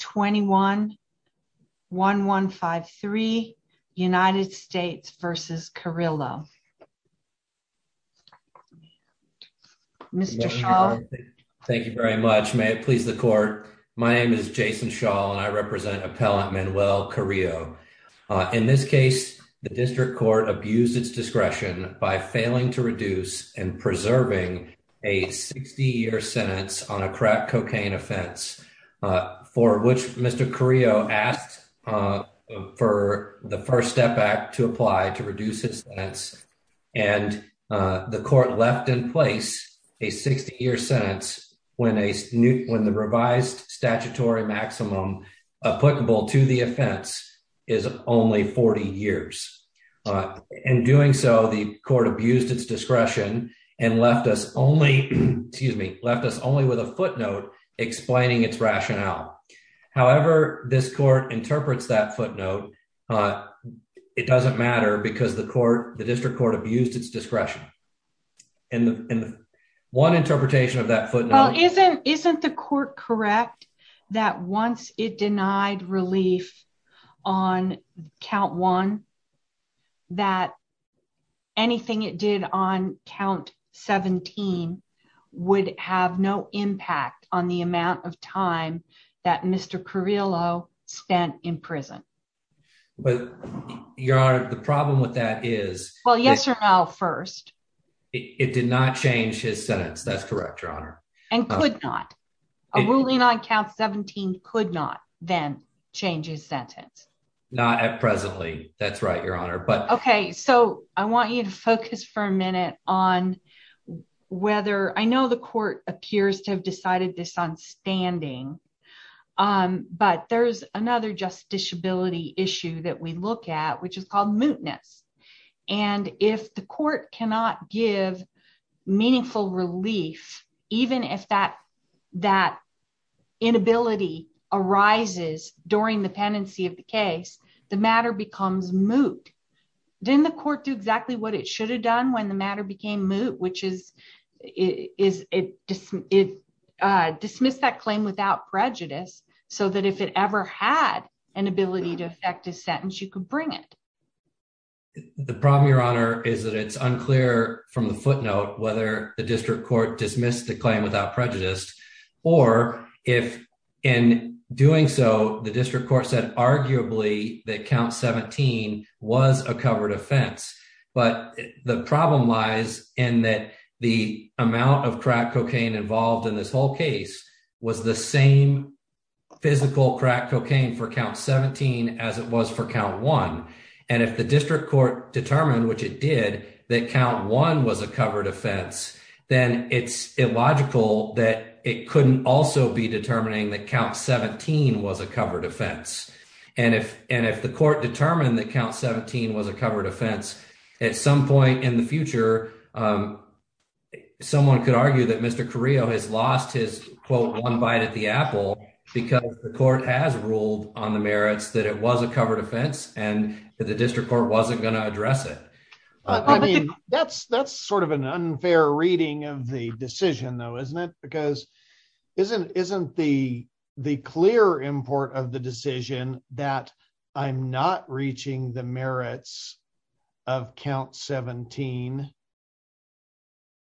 21-1153 United States v. Carrillo. Mr. Shaw. Thank you very much. May it please the court. My name is Jason Shaw and I represent appellant Manuel Carrillo. In this case, the district court abused its discretion by failing to reduce and preserving a 60 year sentence on a crack cocaine offense for which Mr. Carrillo asked for the First Step Act to apply to reduce his sentence and the court left in place a 60 year sentence when the revised statutory maximum applicable to the offense is only 40 years. In doing so, the court abused its footnote explaining its rationale. However, this court interprets that footnote, it doesn't matter because the court, the district court abused its discretion. And one interpretation of that footnote. Isn't the court correct that once it denied relief on count one, that anything it did on count 17 would have no impact on the amount of time that Mr. Carrillo spent in prison? But your honor, the problem with that is, well, yes or no. First, it did not change his sentence. That's correct, your honor. And could not a ruling on count 17 could not then change his sentence? Not at presently. That's right, your honor. But okay. So I want you to focus for a minute on whether I know the court appears to have decided this on standing. But there's another just disability issue that we look at, which is called mootness. And if the court cannot give meaningful relief, even if that, that inability arises during the pendency of the case, the matter becomes moot, then the court do exactly what it should have done when the matter became moot, which is, is it dismissed that claim without prejudice, so that if it ever had an ability to affect his sentence, you could bring it. The problem, your honor, is that it's unclear from the footnote, whether the district court dismissed the claim without prejudice, or if in doing so, the district court said arguably that count 17 was a covered offense. But the problem lies in that the amount of crack cocaine involved in this whole case was the same physical crack cocaine for count 17 as it was for count one. And if the district court determined which it did, that count one was a covered offense, then it's illogical that it couldn't also be determining that count 17 was a covered offense. And if and if the court determined that count 17 was a covered offense, at some point in the future, someone could argue that Mr. Carrillo has lost his quote, one bite at the apple, because the court has ruled on the merits that it was a covered offense, and that the district court wasn't going to address it. I mean, that's that's sort of an unfair reading of the decision, though, isn't it? Because isn't isn't the the clear import of the decision that I'm not reaching the merits of count 17?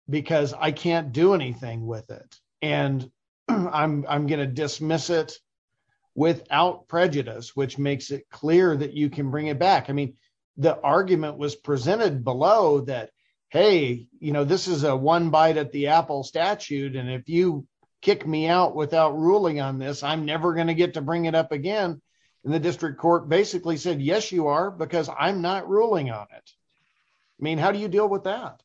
Because I can't do anything with it. And I'm going to dismiss it without prejudice, which makes it clear that you can bring it back. I mean, the argument was presented below that, hey, you know, this is a one bite at the apple statute. And if you kick me out without ruling on this, I'm never going to get to bring it up again. And the district court basically said, yes, you are, because I'm not ruling on it. I mean, how do you deal with that?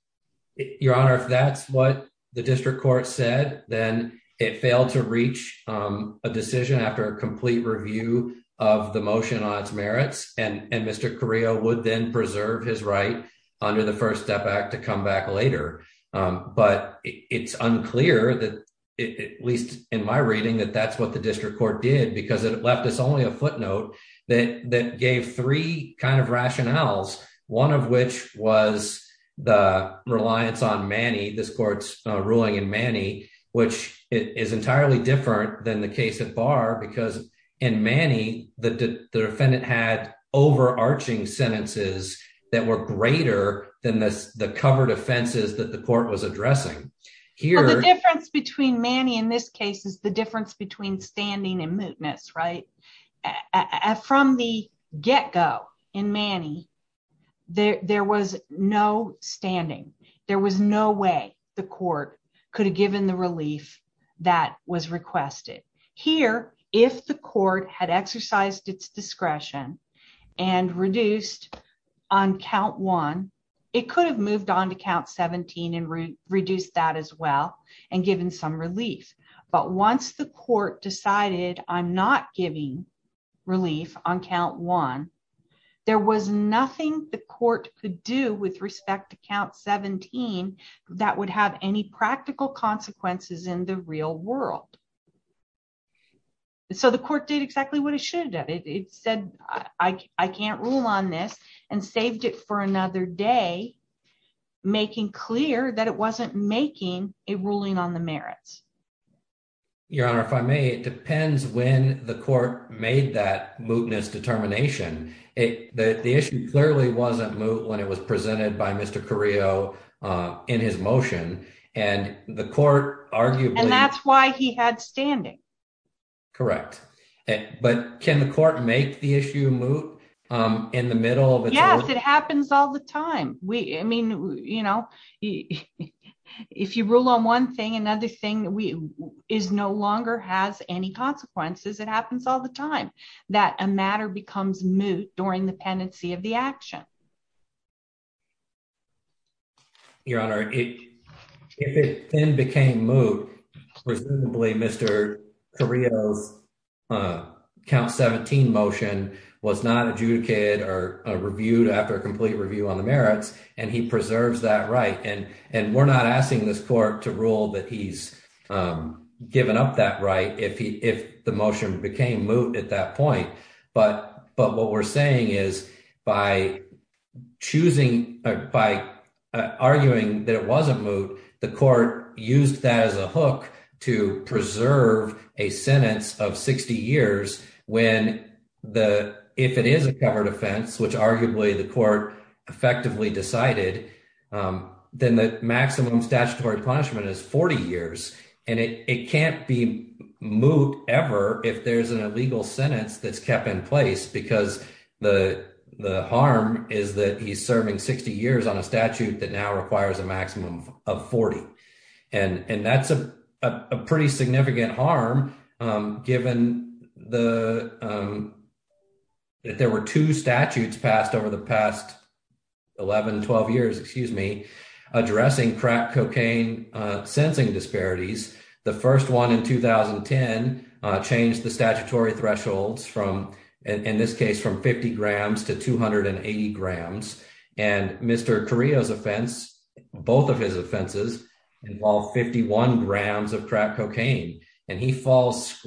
Your Honor, if that's what the district court said, then it failed to reach a decision after a complete review of the motion on its merits, and Mr. Carrillo would then preserve his right under the First Step Act to come back later. But it's unclear that, at least in my reading, that that's what the district court did, because it left us only a footnote that that gave three kind of rationales, one of which was the reliance on Manny, this court's ruling in Manny, which is entirely different than the case at bar, because in Manny, the defendant had overarching sentences that were greater than this, the covered offenses that the court was requesting, and that's between standing and mootness, right? From the get-go in Manny, there was no standing. There was no way the court could have given the relief that was requested. Here, if the court had exercised its discretion and reduced on count one, it could have moved on to count 17 and reduced that as well and given some relief. But once the court decided I'm not giving relief on count one, there was nothing the court could do with respect to count 17 that would have any practical consequences in the real world. So the court did exactly what it said I can't rule on this and saved it for another day, making clear that it wasn't making a ruling on the merits. Your Honor, if I may, it depends when the court made that mootness determination. The issue clearly wasn't moot when it was presented by Mr. Carrillo in his motion, and the court arguably... And that's why he had standing. Correct. But can the court make the issue moot in the middle of... Yes, it happens all the time. I mean, you know, if you rule on one thing, another thing is no longer has any consequences. It happens all the time that a matter becomes moot during the pendency of the action. Your Honor, if it then became moot, presumably Mr. Carrillo's count 17 motion was not adjudicated or reviewed after a complete review on the merits, and he preserves that right. And we're not asking this court to rule that he's given up that right if the motion became moot at that point. But what we're saying is by choosing... By arguing that it wasn't moot, the court used that as a hook to preserve a sentence of 60 years when the... If it is a covered offense, which arguably the court effectively decided, then the maximum statutory punishment is 40 years. And it can't be moot ever if there's an illegal sentence that's kept in place because the harm is that he's serving 60 years on a statute that now requires a maximum of 40. And that's a pretty significant harm given that there were two statutes passed over the past 11, 12 years, excuse me, addressing crack cocaine sensing disparities. The first one in 2010 changed the statutory thresholds from, in this case, from 50 grams to 280 grams. And Mr. Carrillo's offense, both of his offenses involve 51 grams of crack cocaine. And he falls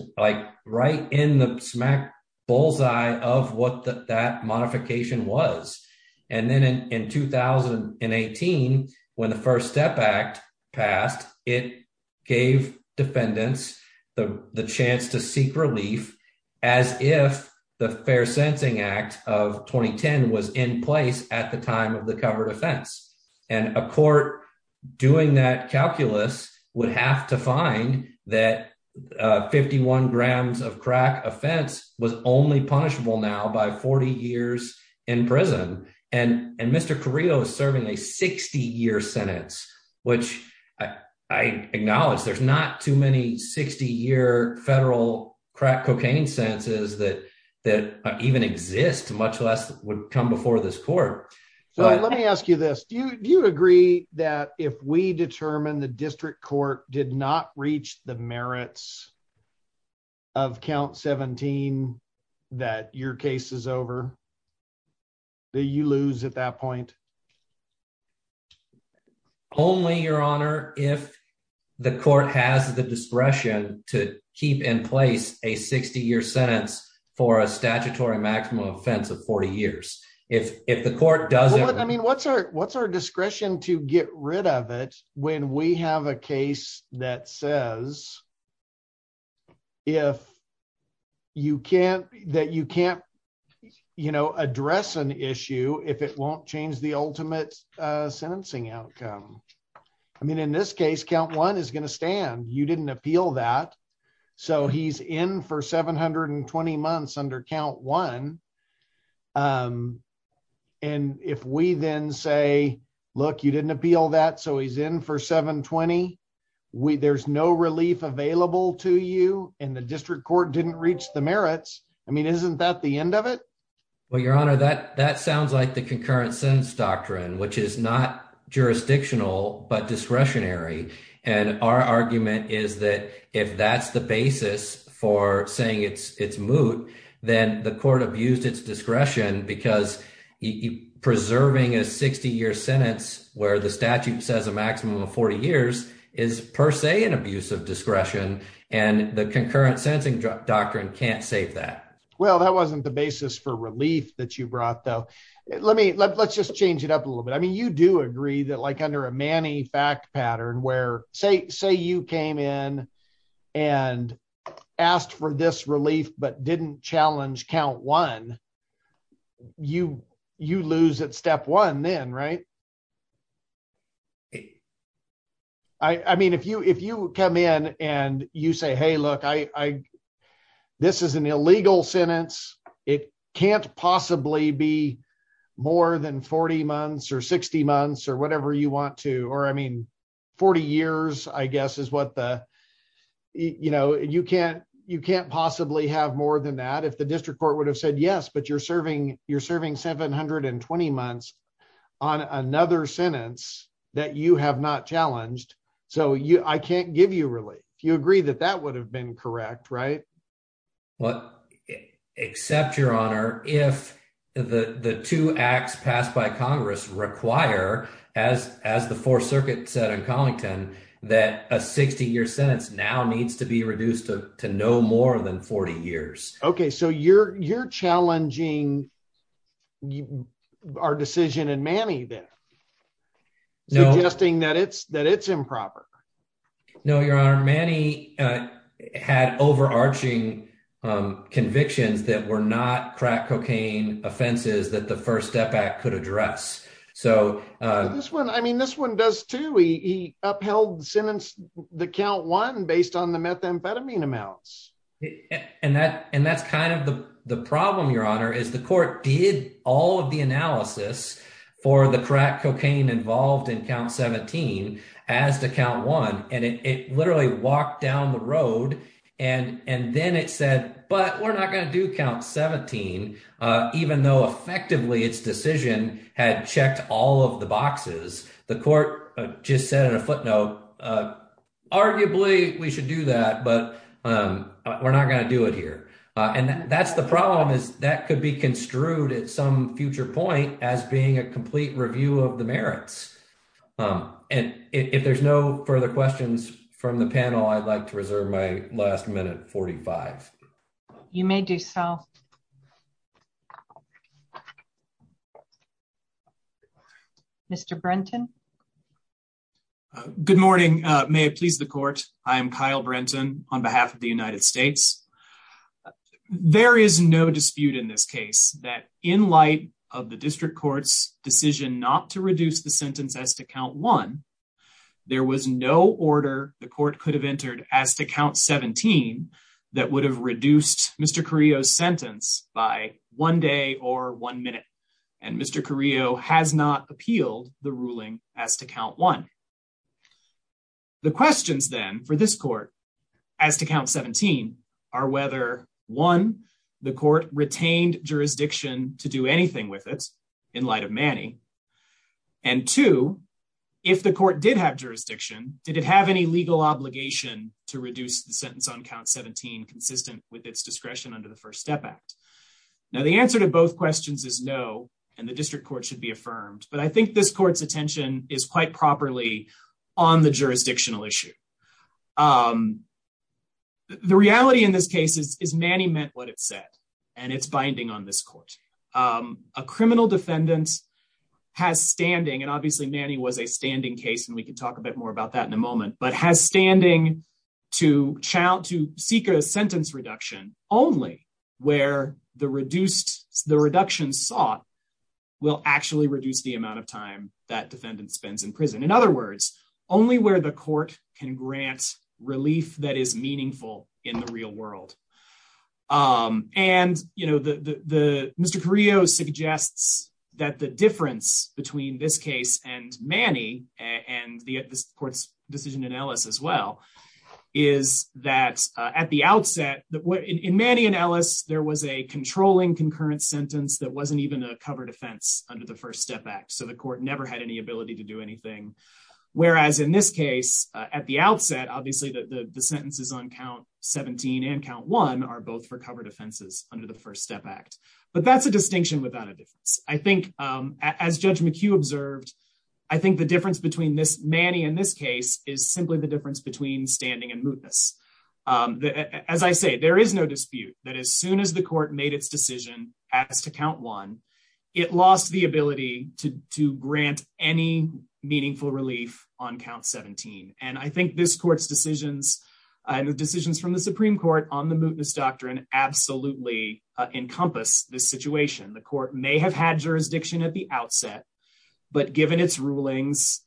right in the smack bullseye of what that modification was. And then in 2018, when the First Step Act passed, it gave defendants the chance to seek relief as if the Fair Sensing Act of 2010 was in place at the time of the covered offense. And a court doing that calculus would have to find that 51 grams of crack offense was only punishable now by 40 years in prison. And Mr. Carrillo is serving a 60-year sentence, which I acknowledge there's not too many 60-year federal crack cocaine sentences that even exist, much less would come before this court. So let me ask you this. Do you agree that if we determine the district court did not reach the merits of count 17 that your case is over, do you lose at that point? Only, Your Honor, if the court has the discretion to keep in place a 60-year sentence for a statutory maximum offense of 40 years. If the court doesn't- Well, I mean, what's our discretion to get rid of it when we have a case that says that you can't address an issue if it won't change the ultimate sentencing outcome? I mean, in this case, count one is going to stand. You didn't appeal that. So he's in for 720 months under count one. And if we then say, look, you didn't appeal that, so he's in for 720, there's no relief available to you and the district court didn't reach the merits. I mean, isn't that the end of it? Well, Your Honor, that sounds like the but discretionary. And our argument is that if that's the basis for saying it's moot, then the court abused its discretion because preserving a 60-year sentence where the statute says a maximum of 40 years is per se an abuse of discretion. And the concurrent sentencing doctrine can't save that. Well, that wasn't the basis for relief that you brought, though. Let's just change it up a little bit. I mean, you do agree that like under a manny fact pattern where, say you came in and asked for this relief but didn't challenge count one, you lose at step one then, right? I mean, if you come in and you say, hey, look, this is an illegal sentence. It can't possibly be more than 40 months or 60 months or whatever you want to or I mean, 40 years, I guess is what the, you know, you can't possibly have more than that if the district court would have said yes, but you're serving 720 months on another sentence that you have not challenged. So I can't give you relief. You agree that that would have been correct, right? Well, except, Your Honor, if the two acts passed by Congress require, as the Fourth Circuit said in Collington, that a 60-year sentence now needs to be reduced to no more than 40 years. Okay, so you're challenging our decision in manny then, suggesting that it's improper. No, Your Honor, manny had overarching convictions that were not crack cocaine offenses that the First Step Act could address. So this one, I mean, this one does too. He upheld the count one based on the methamphetamine amounts. And that's kind of the problem, Your Honor, is the court did all of the analysis for the crack cocaine involved in count 17 as to count one and it literally walked down the road and then it said, but we're not going to do 17, even though effectively its decision had checked all of the boxes. The court just said in a footnote, arguably we should do that, but we're not going to do it here. And that's the problem is that could be construed at some future point as being a complete review of the merits. And if there's no further questions from the panel, I'd like to reserve my last minute 45. You may do so. Mr. Brenton. Good morning. May it please the court. I am Kyle Brenton on behalf of the United States. There is no dispute in this case that in light of the district court's decision not to reduce the sentence as to count one, there was no order the court could have entered as to count 17 that would have reduced Mr. Carrillo's sentence by one day or one minute. And Mr. Carrillo has not appealed the ruling as to count one. The questions then for this court as to count 17 are whether one, the court retained jurisdiction to do anything with it in light of Manny. And two, if the court did have jurisdiction, did it have any legal obligation to reduce the sentence on 17 consistent with its discretion under the First Step Act? Now, the answer to both questions is no, and the district court should be affirmed. But I think this court's attention is quite properly on the jurisdictional issue. The reality in this case is Manny meant what it said, and it's binding on this court. A criminal defendant has standing and obviously Manny was a standing case, and we can talk a bit more about that in a moment, but has standing to seek a sentence reduction only where the reduction sought will actually reduce the amount of time that defendant spends in prison. In other words, only where the court can grant relief that is meaningful in the real world. And Mr. Carrillo suggests that the difference between this case and Manny, and this court's decision in Ellis as well, is that at the outset, in Manny and Ellis, there was a controlling concurrent sentence that wasn't even a cover defense under the First Step Act. So the court never had any ability to do anything. Whereas in this case, at the outset, obviously the sentences on count 17 and count one are both for cover defenses under the First Step Act. But that's a distinction without a difference. I think as Judge McHugh observed, I think the difference between Manny and this case is the difference between standing and mootness. As I say, there is no dispute that as soon as the court made its decision as to count one, it lost the ability to grant any meaningful relief on count 17. And I think this court's decisions and the decisions from the Supreme Court on the mootness doctrine absolutely encompass this situation. The court may have had jurisdiction at the outset, but given its rulings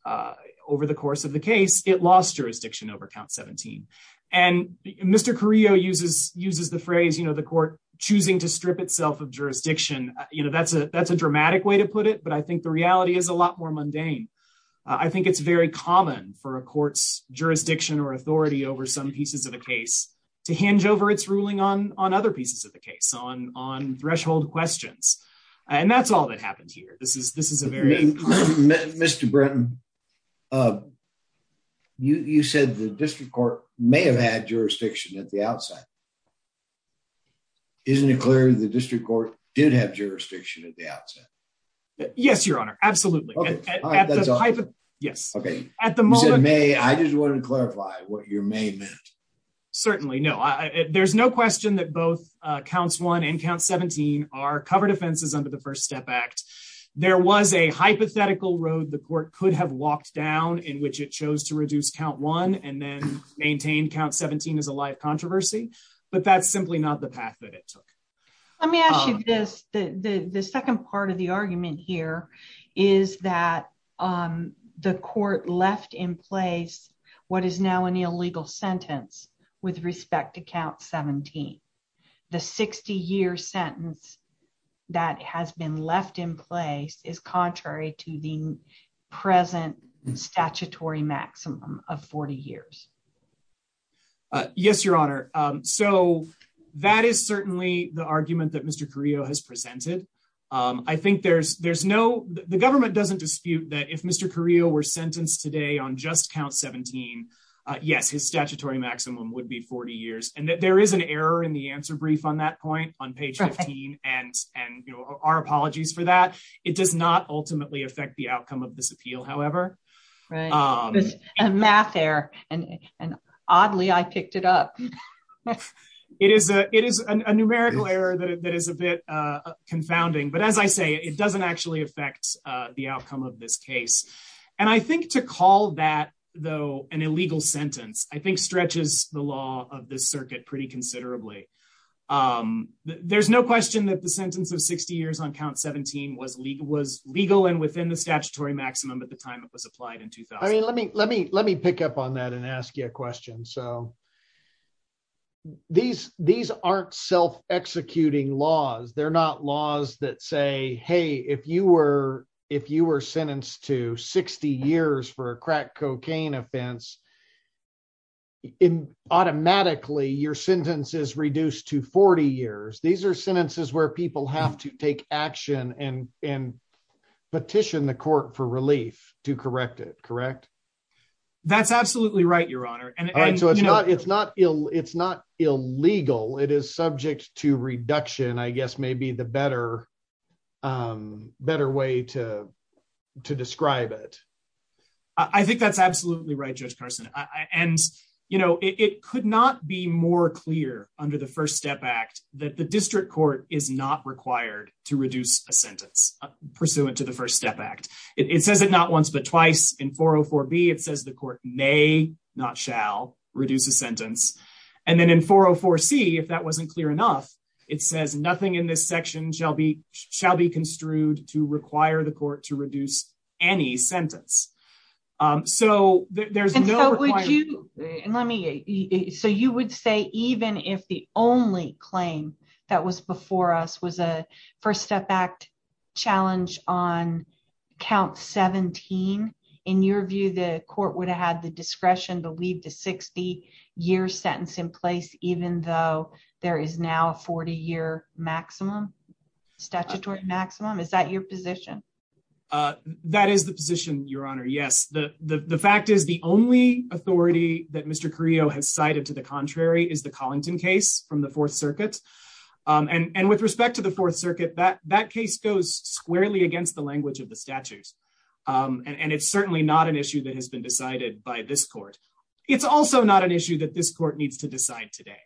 over the course of the case, it lost jurisdiction over count 17. And Mr. Carrillo uses the phrase, you know, the court choosing to strip itself of jurisdiction. You know, that's a dramatic way to put it, but I think the reality is a lot more mundane. I think it's very common for a court's jurisdiction or authority over some pieces of the case to hinge over its ruling on other pieces of the case, on threshold questions. And that's all that happened here. This is, this is a very... Mr. Brenton, you said the district court may have had jurisdiction at the outset. Isn't it clear the district court did have jurisdiction at the outset? Yes, Your Honor. Absolutely. Yes. Okay. At the moment... You said may, I just wanted to clarify what your may meant. Certainly. No, there's no question that both counts one and count 17 are covered offenses under the first step act. There was a hypothetical road the court could have walked down in which it chose to reduce count one and then maintain count 17 as a live controversy, but that's simply not the path that it took. Let me ask you this. The second part of the argument here is that the court left in place what is now an illegal sentence with respect to count 17. The 60 year sentence that has been left in place is contrary to the present statutory maximum of 40 years. Yes, Your Honor. So that is certainly the argument that Mr. Carrillo has presented. I think there's no... The government doesn't dispute that if Mr. Carrillo were sentenced today on just count 17, yes, his statutory maximum would be 40 years and that there is an error in the answer brief on that point on page 15 and our apologies for that. It does not ultimately affect the outcome of this appeal, however. Right. A math error and oddly I picked it up. It is a numerical error that is a bit confounding, but as I say, it doesn't actually affect the outcome of this case. And I think to call that though an illegal sentence, I think stretches the law of this circuit pretty considerably. There's no question that the sentence of 60 years on count 17 was legal and within the statutory maximum at the time it was applied I mean, let me pick up on that and ask you a question. So these aren't self-executing laws. They're not laws that say, hey, if you were sentenced to 60 years for a crack cocaine offense, automatically your sentence is reduced to 40 years. These are sentences where people have to take action and petition the court for relief to correct it. Correct. That's absolutely right. Your honor. And so it's not, it's not ill. It's not illegal. It is subject to reduction, I guess, maybe the better, better way to, to describe it. I think that's absolutely right. Judge Carson. And, you know, it could not be more clear under the first step act that the district court is not required to reduce a twice in 404 B it says the court may not shall reduce a sentence. And then in 404 C, if that wasn't clear enough, it says nothing in this section shall be shall be construed to require the court to reduce any sentence. So there's no, let me, so you would say, even if the only claim that was before us was a first step act challenge on count 17, in your view, the court would have had the discretion to leave the 60 year sentence in place, even though there is now a 40 year maximum statutory maximum. Is that your position? Uh, that is the position your honor. Yes. The, the, the fact is the only authority that Mr. Carrillo has cited to the contrary is the case from the fourth circuit. Um, and, and with respect to the fourth circuit, that, that case goes squarely against the language of the statutes. Um, and it's certainly not an issue that has been decided by this court. It's also not an issue that this court needs to decide today.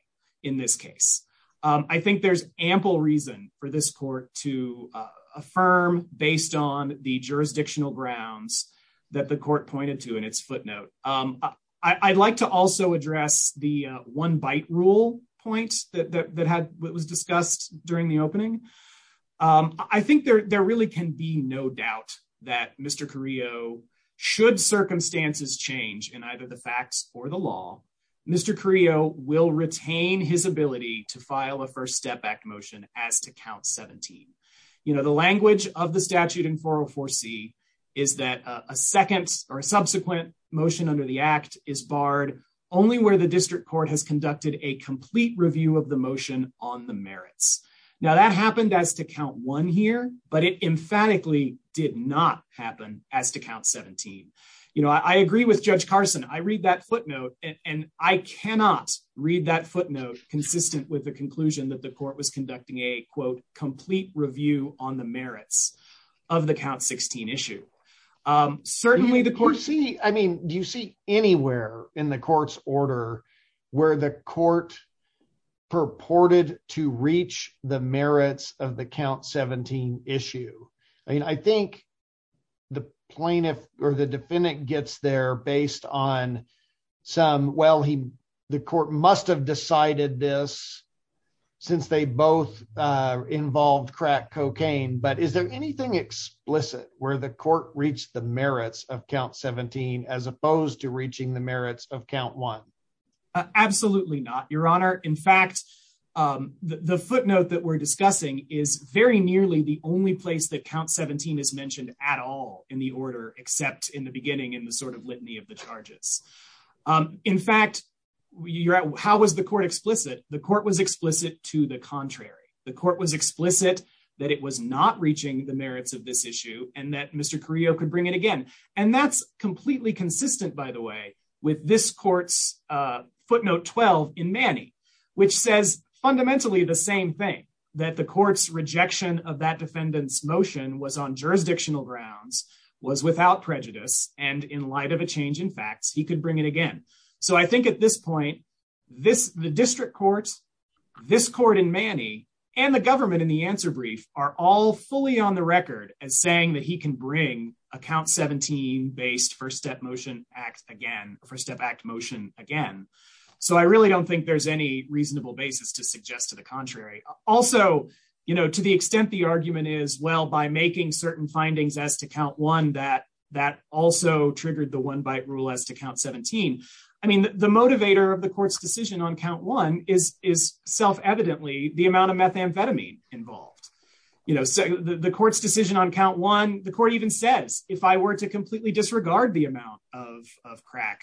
In this case. Um, I think there's ample reason for this court to affirm based on the jurisdictional grounds that the court pointed to in its footnote. Um, I I'd like to also address the one bite rule points that, that, that had was discussed during the opening. Um, I think there, there really can be no doubt that Mr. Carrillo should circumstances change in either the facts or the law, Mr. Carrillo will retain his ability to file a first step back motion as to count 17. You know, the language of the statute in 404 C is that a second or a subsequent motion under the act is barred only where the district court has conducted a complete review of the motion on the merits. Now that happened as to count one here, but it emphatically did not happen as to count 17. You know, I agree with judge Carson. I read that footnote and I cannot read that footnote consistent with the conclusion that the court was conducting a quote complete review on the merits of the count 16 issue. Um, certainly the court C I mean, do you see anywhere in the court's order where the court purported to reach the merits of the count 17 issue? I mean, I think the plaintiff or the defendant gets there based on some, well, he, the court must've decided this since they both, uh, involved crack cocaine, but is there anything explicit where the court reached the merits of count 17 as opposed to reaching the merits of count one? Absolutely not your honor. In fact, um, the footnote that we're discussing is very nearly the only place that count 17 is mentioned at all in the order, except in the beginning in the sort of litany of the charges. Um, in fact, you're at, how was the court explicit? The court was explicit to the contrary. The court was explicit that it was not reaching the merits of this issue and that Mr. Correo could bring it again. And that's completely consistent by the way, with this court's, uh, footnote 12 in Manny, which says fundamentally the same thing that the court's rejection of that defendant's motion was on jurisdictional grounds was without prejudice. And in light of a change in facts, he could bring it again. So I think at this point, this, the district court, this court in Manny and the government in the answer brief are all fully on the record as saying that he can bring a count 17 based first step motion act again for step act motion again. So I really don't think there's any reasonable basis to suggest to the contrary. Also, you know, to the extent the argument is, well, by making certain findings as to count one, that, that also triggered the one bite rule as to count 17. I mean, the motivator of the court's decision on count one is, is self-evidently the amount of methamphetamine involved. You know, the court's decision on count one, the court even says, if I were to completely disregard the amount of, of crack,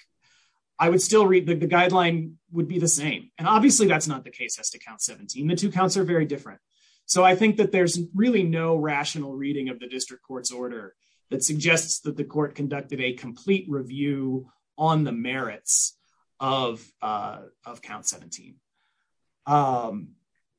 I would still read the guideline would be the same. And obviously that's not the case as to count 17. The two counts are very different. So I think that there's really no rational reading of the district court's order that suggests that the court conducted a complete review on the merits of of count 17.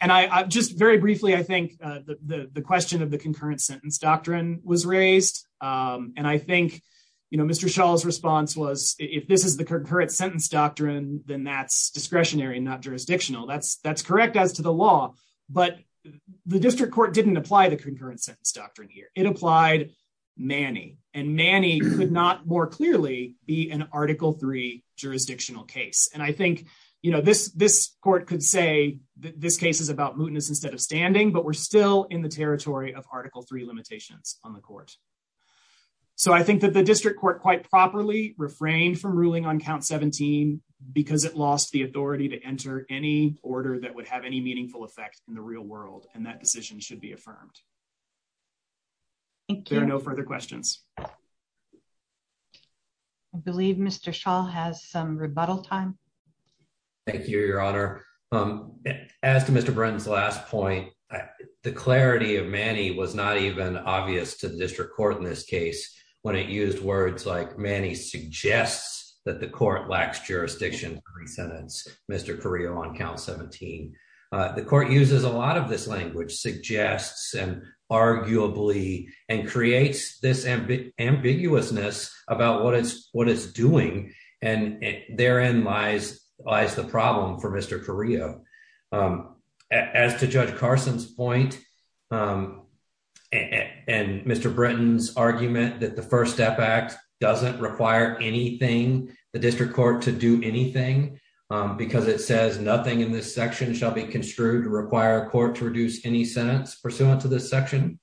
And I just very briefly, I think the, the, the question of the concurrent sentence doctrine was raised. And I think, you know, Mr. Shaw's response was, if this is the current sentence doctrine, then that's discretionary and not jurisdictional. That's, that's correct as to the law, but the district court didn't apply the concurrent sentence doctrine here. It applied Manny and Manny could not more clearly be an article three jurisdictional case. And I think, you know, this, this court could say that this case is about mootness instead of standing, but we're still in the territory of article three limitations on the court. So I think that the district court quite properly refrained from ruling on count 17 because it lost the authority to enter any order that would have any meaningful effect in the real world. And that decision should be affirmed. There are no further questions. I believe Mr. Shaw has some rebuttal time. Thank you, your honor. As to Mr. Brenton's last point, the clarity of Manny was not even obvious to the district court in this case. When it used words like Manny suggests that the court lacks jurisdiction to re-sentence Mr. Carrillo on count 17. The court uses a lot of this language, suggests and arguably, and creates this ambiguousness about what it's, what it's doing. And therein lies, lies the problem for Mr. Carrillo. As to judge Carson's point and Mr. Brenton's argument that the first step act doesn't require anything, the district court to do anything because it says nothing in this section shall be construed to require a court to reduce any sentence pursuant to this section.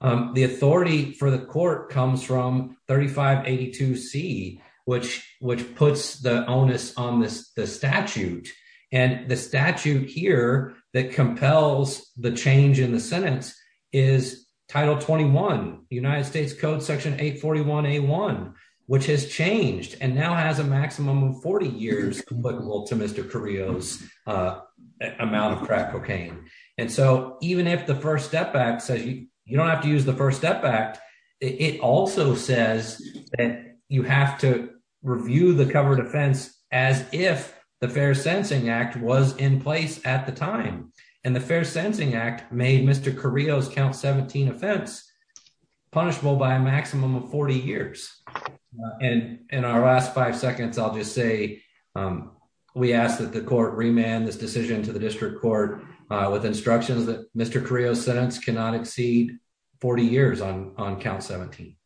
The authority for the court comes from 3582 C, which, which puts the onus on this, the statute and the statute here that compels the change in the sentence is title 21, United States code section 841 A1, which has changed and now has a maximum of 40 years applicable to Mr. Carrillo's amount of crack cocaine. And so even if the first step back says you don't have to use the first step back, it also says that you have to review the covered offense as if the fair sensing act was in place at the time. And the fair sensing act made Mr. Carrillo's offense punishable by a maximum of 40 years. And in our last five seconds, I'll just say, we ask that the court remand this decision to the district court with instructions that Mr. Carrillo's sentence cannot exceed 40 years on, on count 17.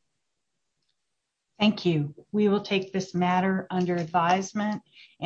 Thank you. We will take this matter under advisement. And